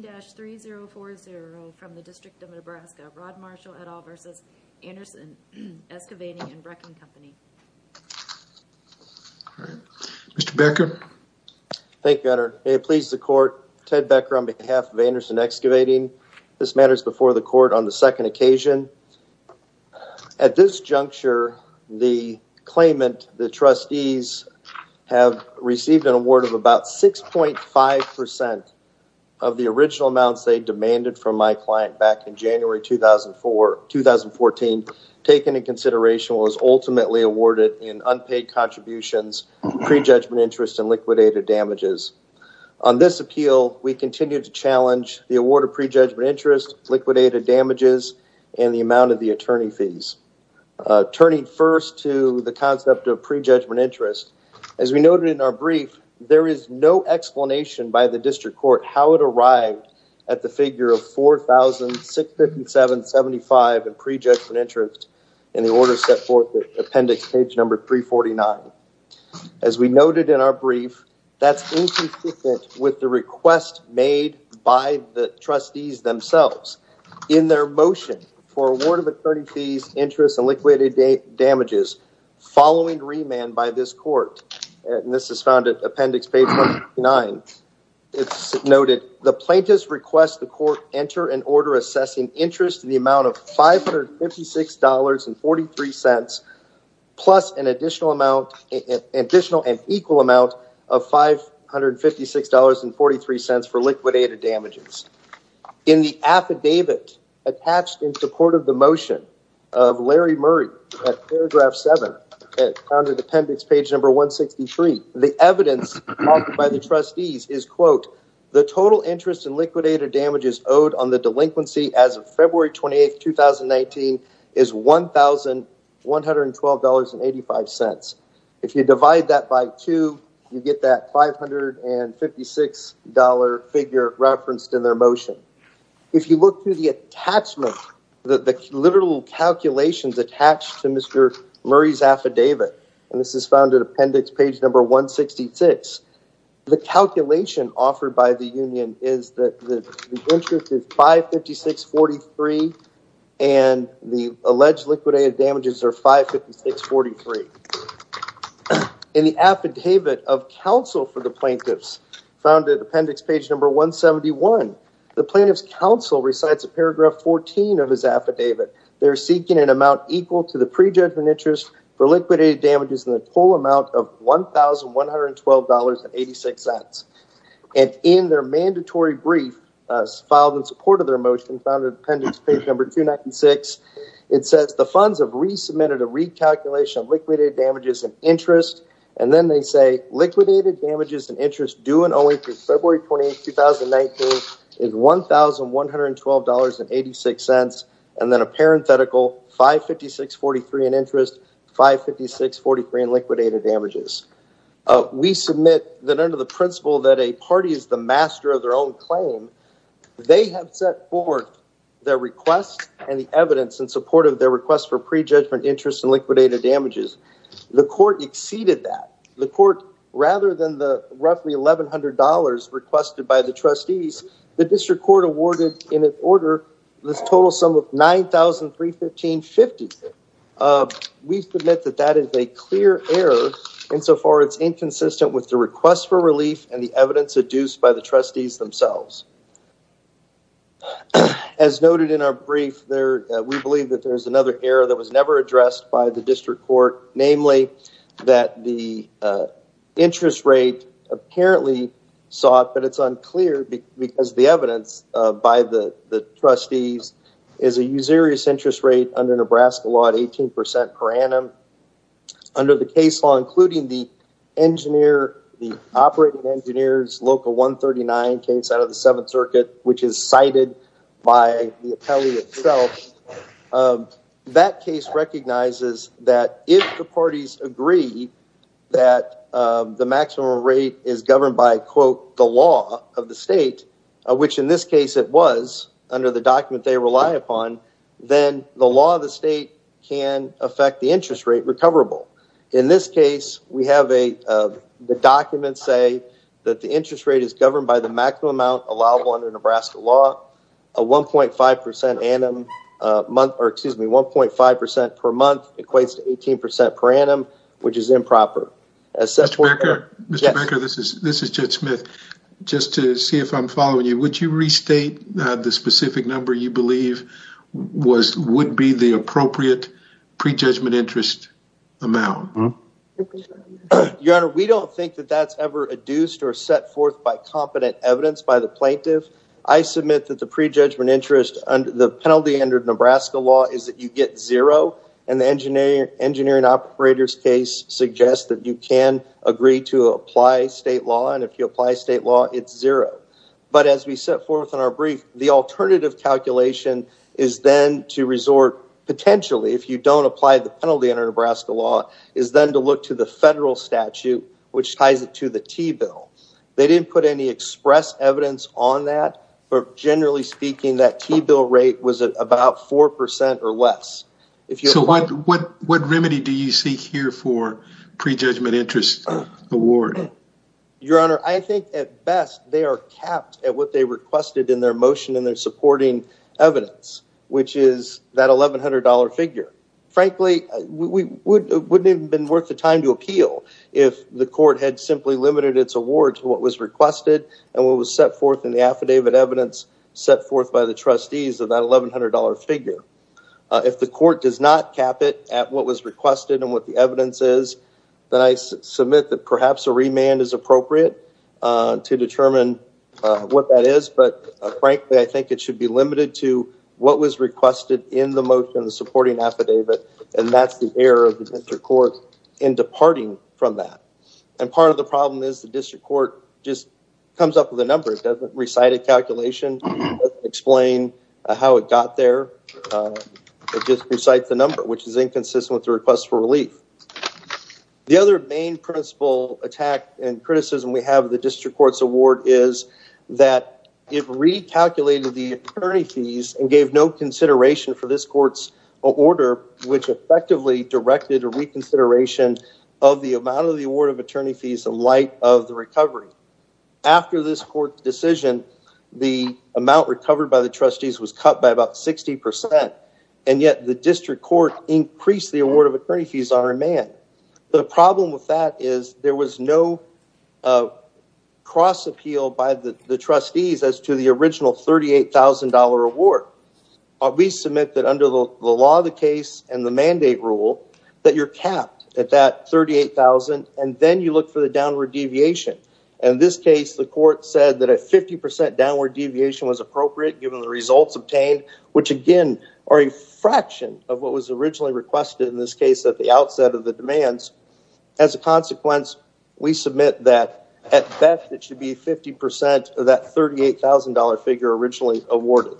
dash 3040 from the District of Nebraska. Rod Marshall, et al. v. Anderson Excavating & Wrecking Company. Mr. Becker. Thank you, Honor. May it please the Court. Ted Becker on behalf of Anderson Excavating. This matter is before the Court on the second occasion. At this juncture the claimant, the trustees have received an award of about 6.5% of the original amounts they demanded from my client back in January 2014 taken into consideration was ultimately awarded in unpaid contributions, prejudgment interest, and liquidated damages. On this appeal we continue to challenge the award of prejudgment interest, liquidated damages, and the amount of the attorney fees. Turning first to the concept of prejudgment interest, as we noted in our brief, there is no explanation by the District Court how it arrived at the figure of 4,657.75 in prejudgment interest in the order set forth in appendix page number 349. As we noted in our brief, that's inconsistent with the request made by the trustees themselves. In their motion for award of attorney fees, interest, and liquidated damages following remand by this Court, and this is found at appendix page 9, it's noted the plaintiffs request the Court enter an order assessing interest in the amount of $556.43 plus an additional amount, an additional and equal amount of $556.43 for liquidated damages. In the affidavit attached in support of the motion of Larry Murray at paragraph 7 at under appendix page number 163, the evidence by the trustees is, quote, the total interest in liquidated damages owed on the delinquency as of February 28, 2019 is $1,112.85. If you look through the attachment, the literal calculations attached to Mr. Murray's affidavit, and this is found at appendix page number 166, the calculation offered by the union is that the interest is $556.43 and the alleged liquidated damages are $556.43. In the affidavit of counsel for the plaintiffs, found at appendix page number 171, the plaintiff's counsel recites a paragraph 14 of his affidavit. They're seeking an amount equal to the pre-judgment interest for liquidated damages in the full amount of $1,112.86. And in their mandatory brief, filed in support of their motion, found at appendix page number 296, it says the funds have resubmitted a recalculation of liquidated damages and interest, and then they say liquidated damages and interest due and owing to February 28, 2019 is $1,112.86, and then a parenthetical, $556.43 in interest, $556.43 in liquidated damages. We submit that under the principle that a party is the master of their own claim, they have set forth their request and the interest and liquidated damages. The court exceeded that. The court, rather than the roughly $1,100 requested by the trustees, the district court awarded in order the total sum of $9,315.50. We submit that that is a clear error and so far it's inconsistent with the request for relief and the evidence adduced by the trustees themselves. As noted in our brief, we believe that there's another error that was never addressed by the district court, namely that the interest rate apparently sought, but it's unclear because the evidence by the trustees is a usurious interest rate under Nebraska law at 18% per annum. Under the case law, including the operating engineer's local 139 case out of the 17,000 circuit, which is cited by the appellee itself, that case recognizes that if the parties agree that the maximum rate is governed by, quote, the law of the state, which in this case it was, under the document they rely upon, then the law of the state can affect the interest rate recoverable. In this case, we have the document say that the interest rate is governed by the maximum amount allowable under Nebraska law, a 1.5% annum, or excuse me, 1.5% per month equates to 18% per annum, which is improper. Mr. Becker, this is Judge Smith. Just to see if I'm following you, would you restate the specific number you believe would be the appropriate pre-judgment interest amount? Your Honor, we don't think that that's ever adduced or set forth by competent evidence by the plaintiff. I submit that the pre-judgment interest under the penalty under Nebraska law is that you get zero, and the engineering operator's case suggests that you can agree to apply state law, and if you apply state law, it's zero. But as we set forth in our brief, the alternative calculation is then to resort, potentially, if you don't apply the penalty under Nebraska law, is then to look to the federal statute, which ties it to the T-bill. They didn't put any express evidence on that, but generally speaking, that T-bill rate was at about 4% or less. So what remedy do you seek here for pre-judgment interest award? Your Honor, I think at best, they are capped at what they requested in their motion and their supporting evidence, which is that $1,100 figure. Frankly, it wouldn't have been worth the time to appeal if the court had simply limited its award to what was requested and what was set forth in the affidavit evidence set forth by the trustees of that $1,100 figure. If the court does not cap it at what was requested and what the evidence is, then I submit that perhaps a remand is appropriate to determine what that is, but frankly, I think it should be limited to what was requested in the motion, supporting affidavit, and that's the error of the district court in departing from that. And part of the problem is the district court just comes up with a number. It doesn't recite a calculation. It doesn't explain how it got there. It just recites the number, which is inconsistent with the request for relief. The other main principle attack and criticism we have of the district court's award is that it recalculated the attorney fees and gave no order which effectively directed a reconsideration of the amount of the award of attorney fees in light of the recovery. After this court decision, the amount recovered by the trustees was cut by about 60%, and yet the district court increased the award of attorney fees on remand. The problem with that is there was no cross appeal by the trustees as to the original $38,000 award. We submit that under the law of the case and the mandate rule that you're capped at that $38,000, and then you look for the downward deviation. In this case, the court said that a 50% downward deviation was appropriate given the results obtained, which again are a fraction of what was originally requested in this case at the outset of the demands. As a consequence, we submit that at best it should be 50% of that $38,000 figure originally awarded,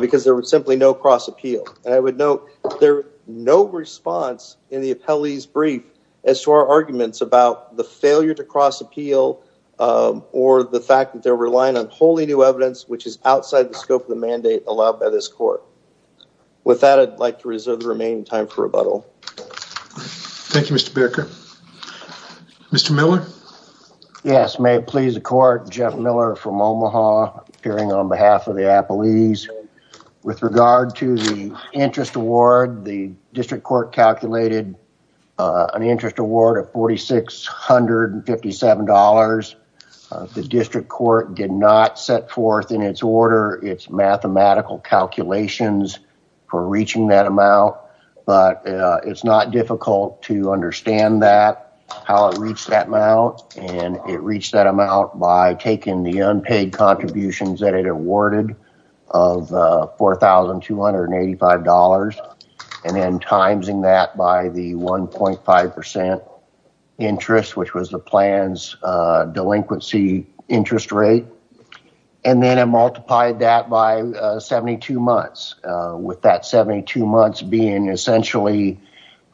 because there was simply no cross appeal. I would note there's no response in the appellee's brief as to our arguments about the failure to cross appeal or the fact that they're relying on wholly new evidence which is outside the scope of the mandate allowed by this court. With that, I'd like to reserve the remaining time for rebuttal. Thank you, Mr. Baker. Mr. Miller? Yes, may it please the court, Jeff Miller from Omaha appearing on behalf of the appellees. With regard to the interest award, the district court calculated an interest award of $4,657. The district court did not set forth in its order its mathematical calculations for reaching that amount, and it reached that amount by taking the unpaid contributions that it awarded of $4,285 and then timesing that by the 1.5% interest, which was the plan's delinquency interest rate, and then it multiplied that by 72 months, with that 72 months being essentially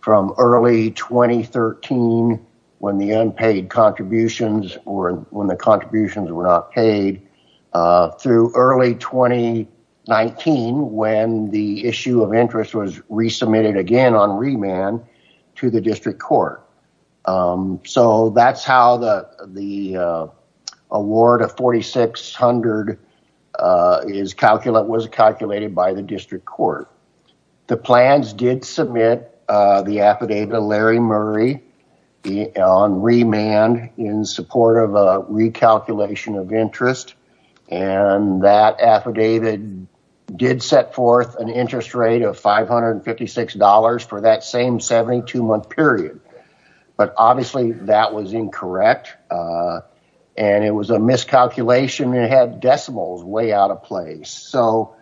from early 2013 when the unpaid contributions or when the contributions were not paid, through early 2019 when the issue of interest was resubmitted again on remand to the district court. So, that's how the award of $4,600 was calculated by the district court. The plans did submit the affidavit of Larry Murray on remand in support of a recalculation of interest, and that affidavit did set forth an interest rate of $556 for that same 72-month period, but obviously that was incorrect, and it was a miscalculation, and it had decimals way out of place. So,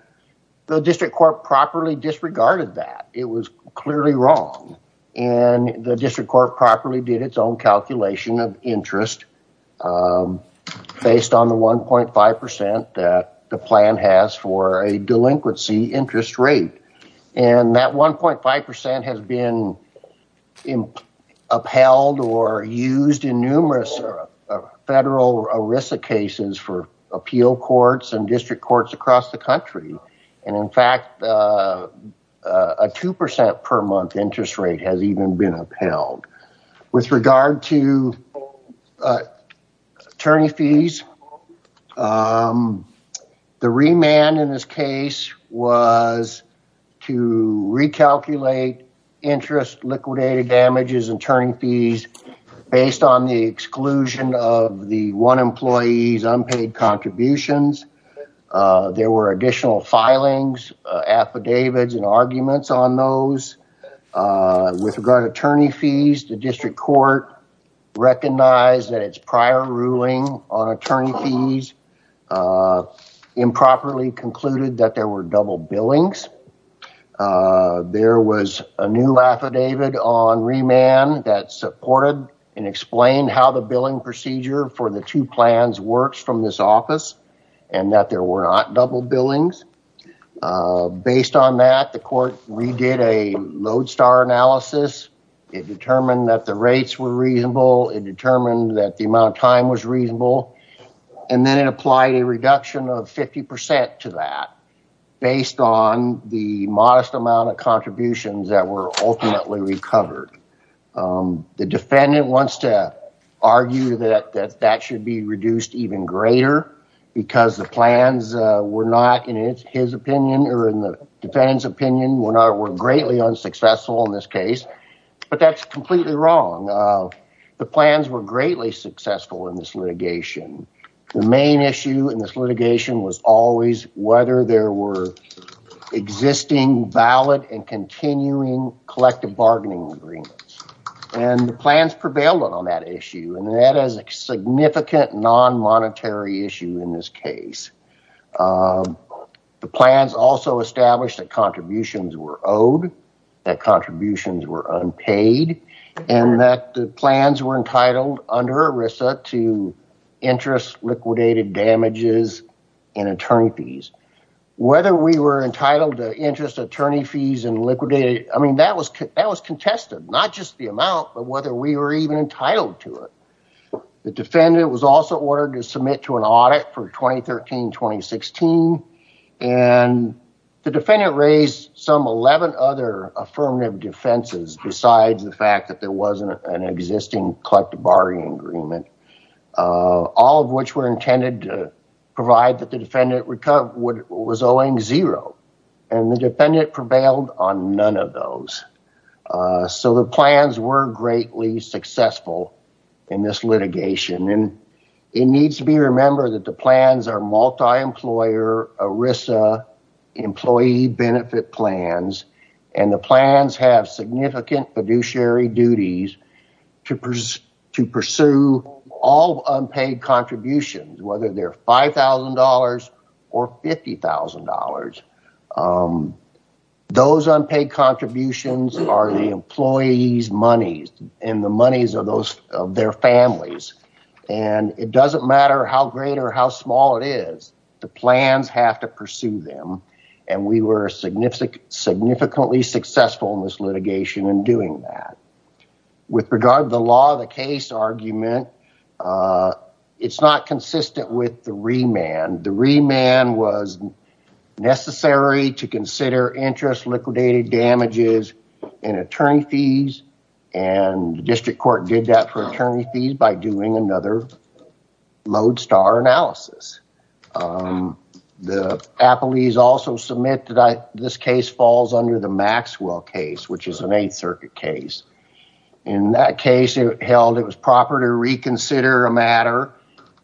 the district court properly disregarded that. It was clearly wrong, and the district court properly did its own calculation of interest, based on the 1.5% that the plan has for a delinquency interest rate, and that 1.5% has been upheld or used in numerous federal ERISA cases for appeal courts and district courts across the country, and in fact, a 2% per month interest rate has even been upheld. With regard to attorney fees, the remand in this case was to recalculate interest liquidated damages and attorney fees based on the exclusion of the one employee's unpaid contributions. There were additional filings, affidavits, and arguments on those. With regard to attorney fees, the district court recognized that its prior ruling on attorney fees improperly concluded that there were double billings. There was a new affidavit on remand that supported and explained how the billing procedure for the two plans works from this office, and that there were not double billings. Based on that, the court redid a Lodestar analysis. It determined that the rates were reasonable. It determined that the amount of time was reasonable, and then it applied a reduction of 50% to that, based on the modest amount of contributions that were ultimately recovered. The defendant wants to argue that that should be reduced even greater, because the plans were not, in his opinion, or in the defendant's opinion, were greatly unsuccessful in this case, but that's completely wrong. The plans were greatly successful in this litigation. The main issue in this litigation was always whether there were existing, valid, and continuing collective bargaining agreements. The plans prevailed on that issue, and that is a significant non-monetary issue in this case. The plans also established that contributions were owed, that contributions were unpaid, and that the plans were entitled under ERISA to interest liquidated damages and attorney fees. Whether we were entitled to interest attorney fees and liquidated, I mean, that was contested, not just the amount, but whether we were even entitled to that. The defense also ordered to submit to an audit for 2013-2016, and the defendant raised some 11 other affirmative defenses, besides the fact that there wasn't an existing collective bargaining agreement, all of which were intended to provide that the defendant would come, was owing zero, and the defendant prevailed on none of those. So, the plans were greatly successful in this litigation, and it needs to be remembered that the plans are multi-employer ERISA employee benefit plans, and the plans have significant fiduciary duties to pursue all unpaid contributions, whether they're $5,000 or $50,000. Those unpaid contributions are the employees' monies, and the monies are those of their families, and it doesn't matter how great or how small it is, the plans have to pursue them, and we were significantly successful in this litigation in doing that. With regard to the law of the case argument, it's not consistent with the remand. The remand was necessary to consider interest liquidated damages in attorney fees, and the district court did that for attorney fees by doing another lodestar analysis. The appellees also submit that this case falls under the Maxwell case, which is an Eighth Circuit case. In that case, it was proper to reconsider a matter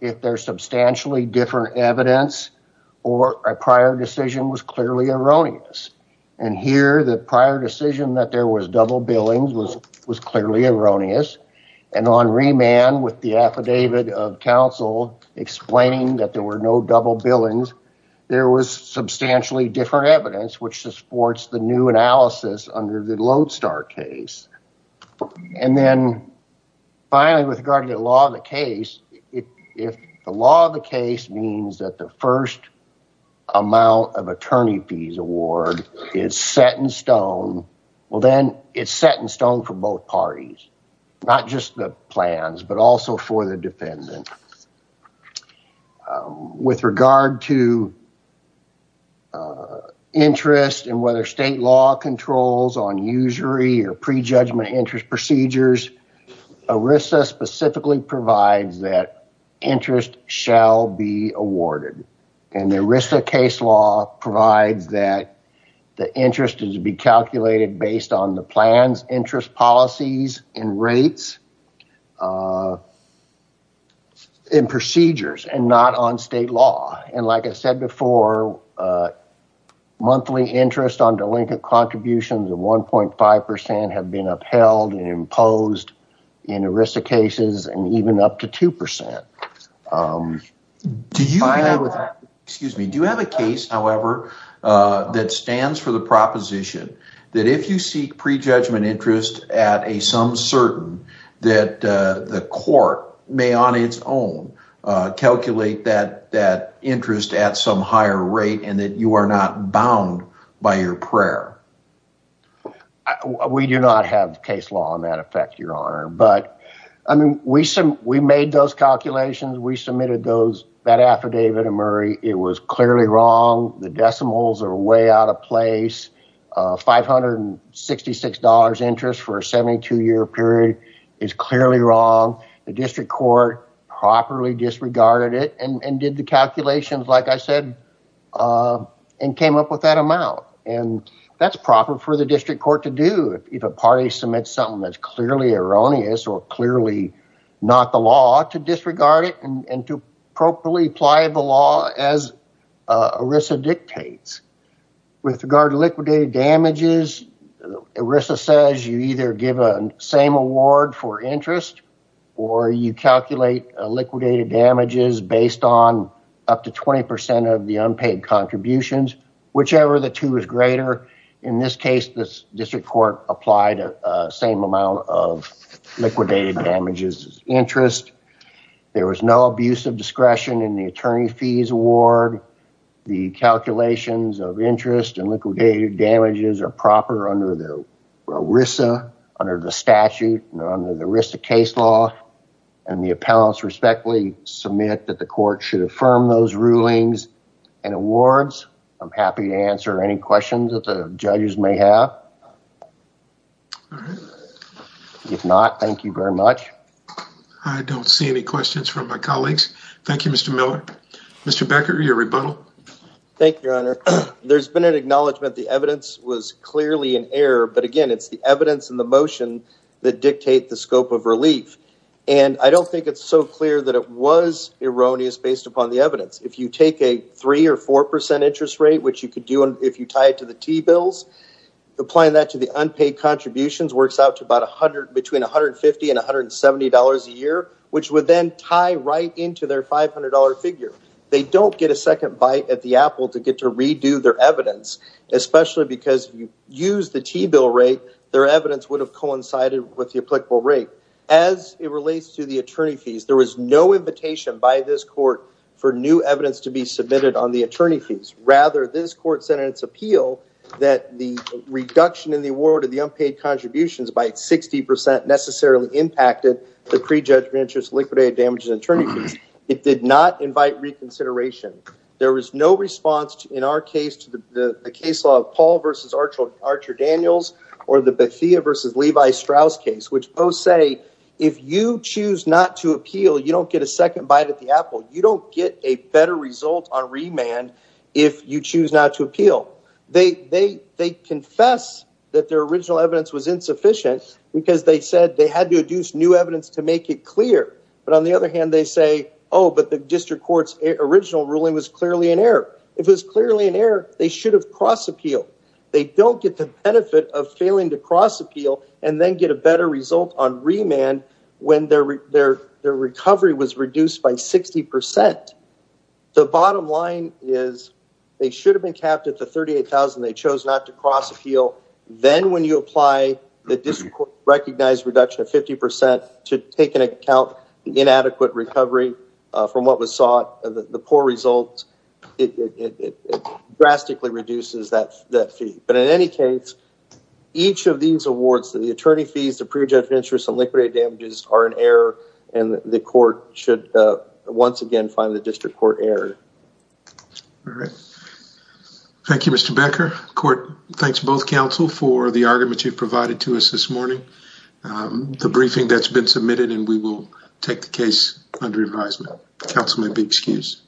if there's substantially different evidence or a prior decision was clearly erroneous, and here, the prior decision that there was double billings was clearly erroneous, and on remand with the affidavit of counsel explaining that there were no double billings, there was substantially different evidence, which supports the new analysis under the lodestar case, and then finally, with regard to the law of the case, if the law of the case means that the first amount of attorney fees award is set in stone, well, then it's set in stone for both parties, not just the plans, but also for the defendant. With regard to interest and whether state law controls on usury or prejudgment interest procedures, ERISA specifically provides that interest shall be awarded, and the ERISA case law provides that the interest is to be calculated based on the plans, interest policies, and rates and procedures and not on state law, and like I said before, monthly interest on delinquent contributions of 1.5 percent have been upheld and imposed in ERISA cases and even up to 2 percent. Do you have a case, however, that stands for the the court may on its own calculate that interest at some higher rate and that you are not bound by your prayer? We do not have case law on that effect, your honor, but I mean, we made those calculations. We submitted that affidavit to Murray. It was clearly wrong. The decimals are out of place. $566 interest for a 72-year period is clearly wrong. The district court properly disregarded it and did the calculations, like I said, and came up with that amount, and that's proper for the district court to do if a party submits something that's clearly erroneous or clearly not the law to disregard it and to properly apply the law as ERISA dictates. With regard to liquidated damages, ERISA says you either give a same award for interest or you calculate liquidated damages based on up to 20 percent of the unpaid contributions, whichever the two is greater. In this case, the district court applied the same amount of liquidated damages interest. There was no abuse of discretion in the attorney fees award. The calculations of interest and liquidated damages are proper under the ERISA, under the statute, under the ERISA case law, and the appellants respectfully submit that the court should affirm those rulings and awards. I'm happy to answer any questions that the judges may have. All right. If not, thank you very much. I don't see any questions from my colleagues. Thank you, Mr. Miller. Mr. Becker, your rebuttal. Thank you, your honor. There's been an acknowledgement the evidence was clearly in error, but again, it's the evidence and the motion that dictate the scope of relief, and I don't think it's so clear that it was erroneous based upon the evidence. If you take a three or four percent interest rate, which you could do if you tie it to the T-bills, applying that to the unpaid contributions works out to about between 150 and 170 dollars a year, which would then tie right into their 500 figure. They don't get a second bite at the apple to get to redo their evidence, especially because if you use the T-bill rate, their evidence would have coincided with the applicable rate. As it relates to the attorney fees, there was no invitation by this court for new evidence to be submitted on the attorney fees. Rather, this court said in its appeal that the reduction in the award of the unpaid contributions by 60 percent necessarily impacted the pre-judgment interest liquidated damages and attorney fees. It did not invite reconsideration. There was no response in our case to the case law of Paul versus Archer Daniels, or the Bethea versus Levi Strauss case, which both say if you choose not to appeal, you don't get a second bite at the apple. You don't get a better result on remand if you choose not to appeal. They confess that their original evidence was insufficient because they said they had to use new evidence to make it clear. But on the other hand, they say, oh, but the district court's original ruling was clearly in error. If it was clearly in error, they should have cross-appealed. They don't get the benefit of failing to cross-appeal and then get a better result on remand when their recovery was reduced by 60 percent. The bottom line is they should have been capped at the 38,000. They chose not to cross-appeal. Then when you apply the district court recognized reduction of 50 percent to take into account the inadequate recovery from what was sought, the poor results, it drastically reduces that fee. But in any case, each of these awards, the attorney fees, the pre-judged interest and liquidated damages are in error and the court should once again find the district court error. All right. Thank you, Mr. Becker. Court, thanks both counsel for the argument you've provided to us this morning. The briefing that's been submitted and we will take the case under advisement. Counsel may be excused.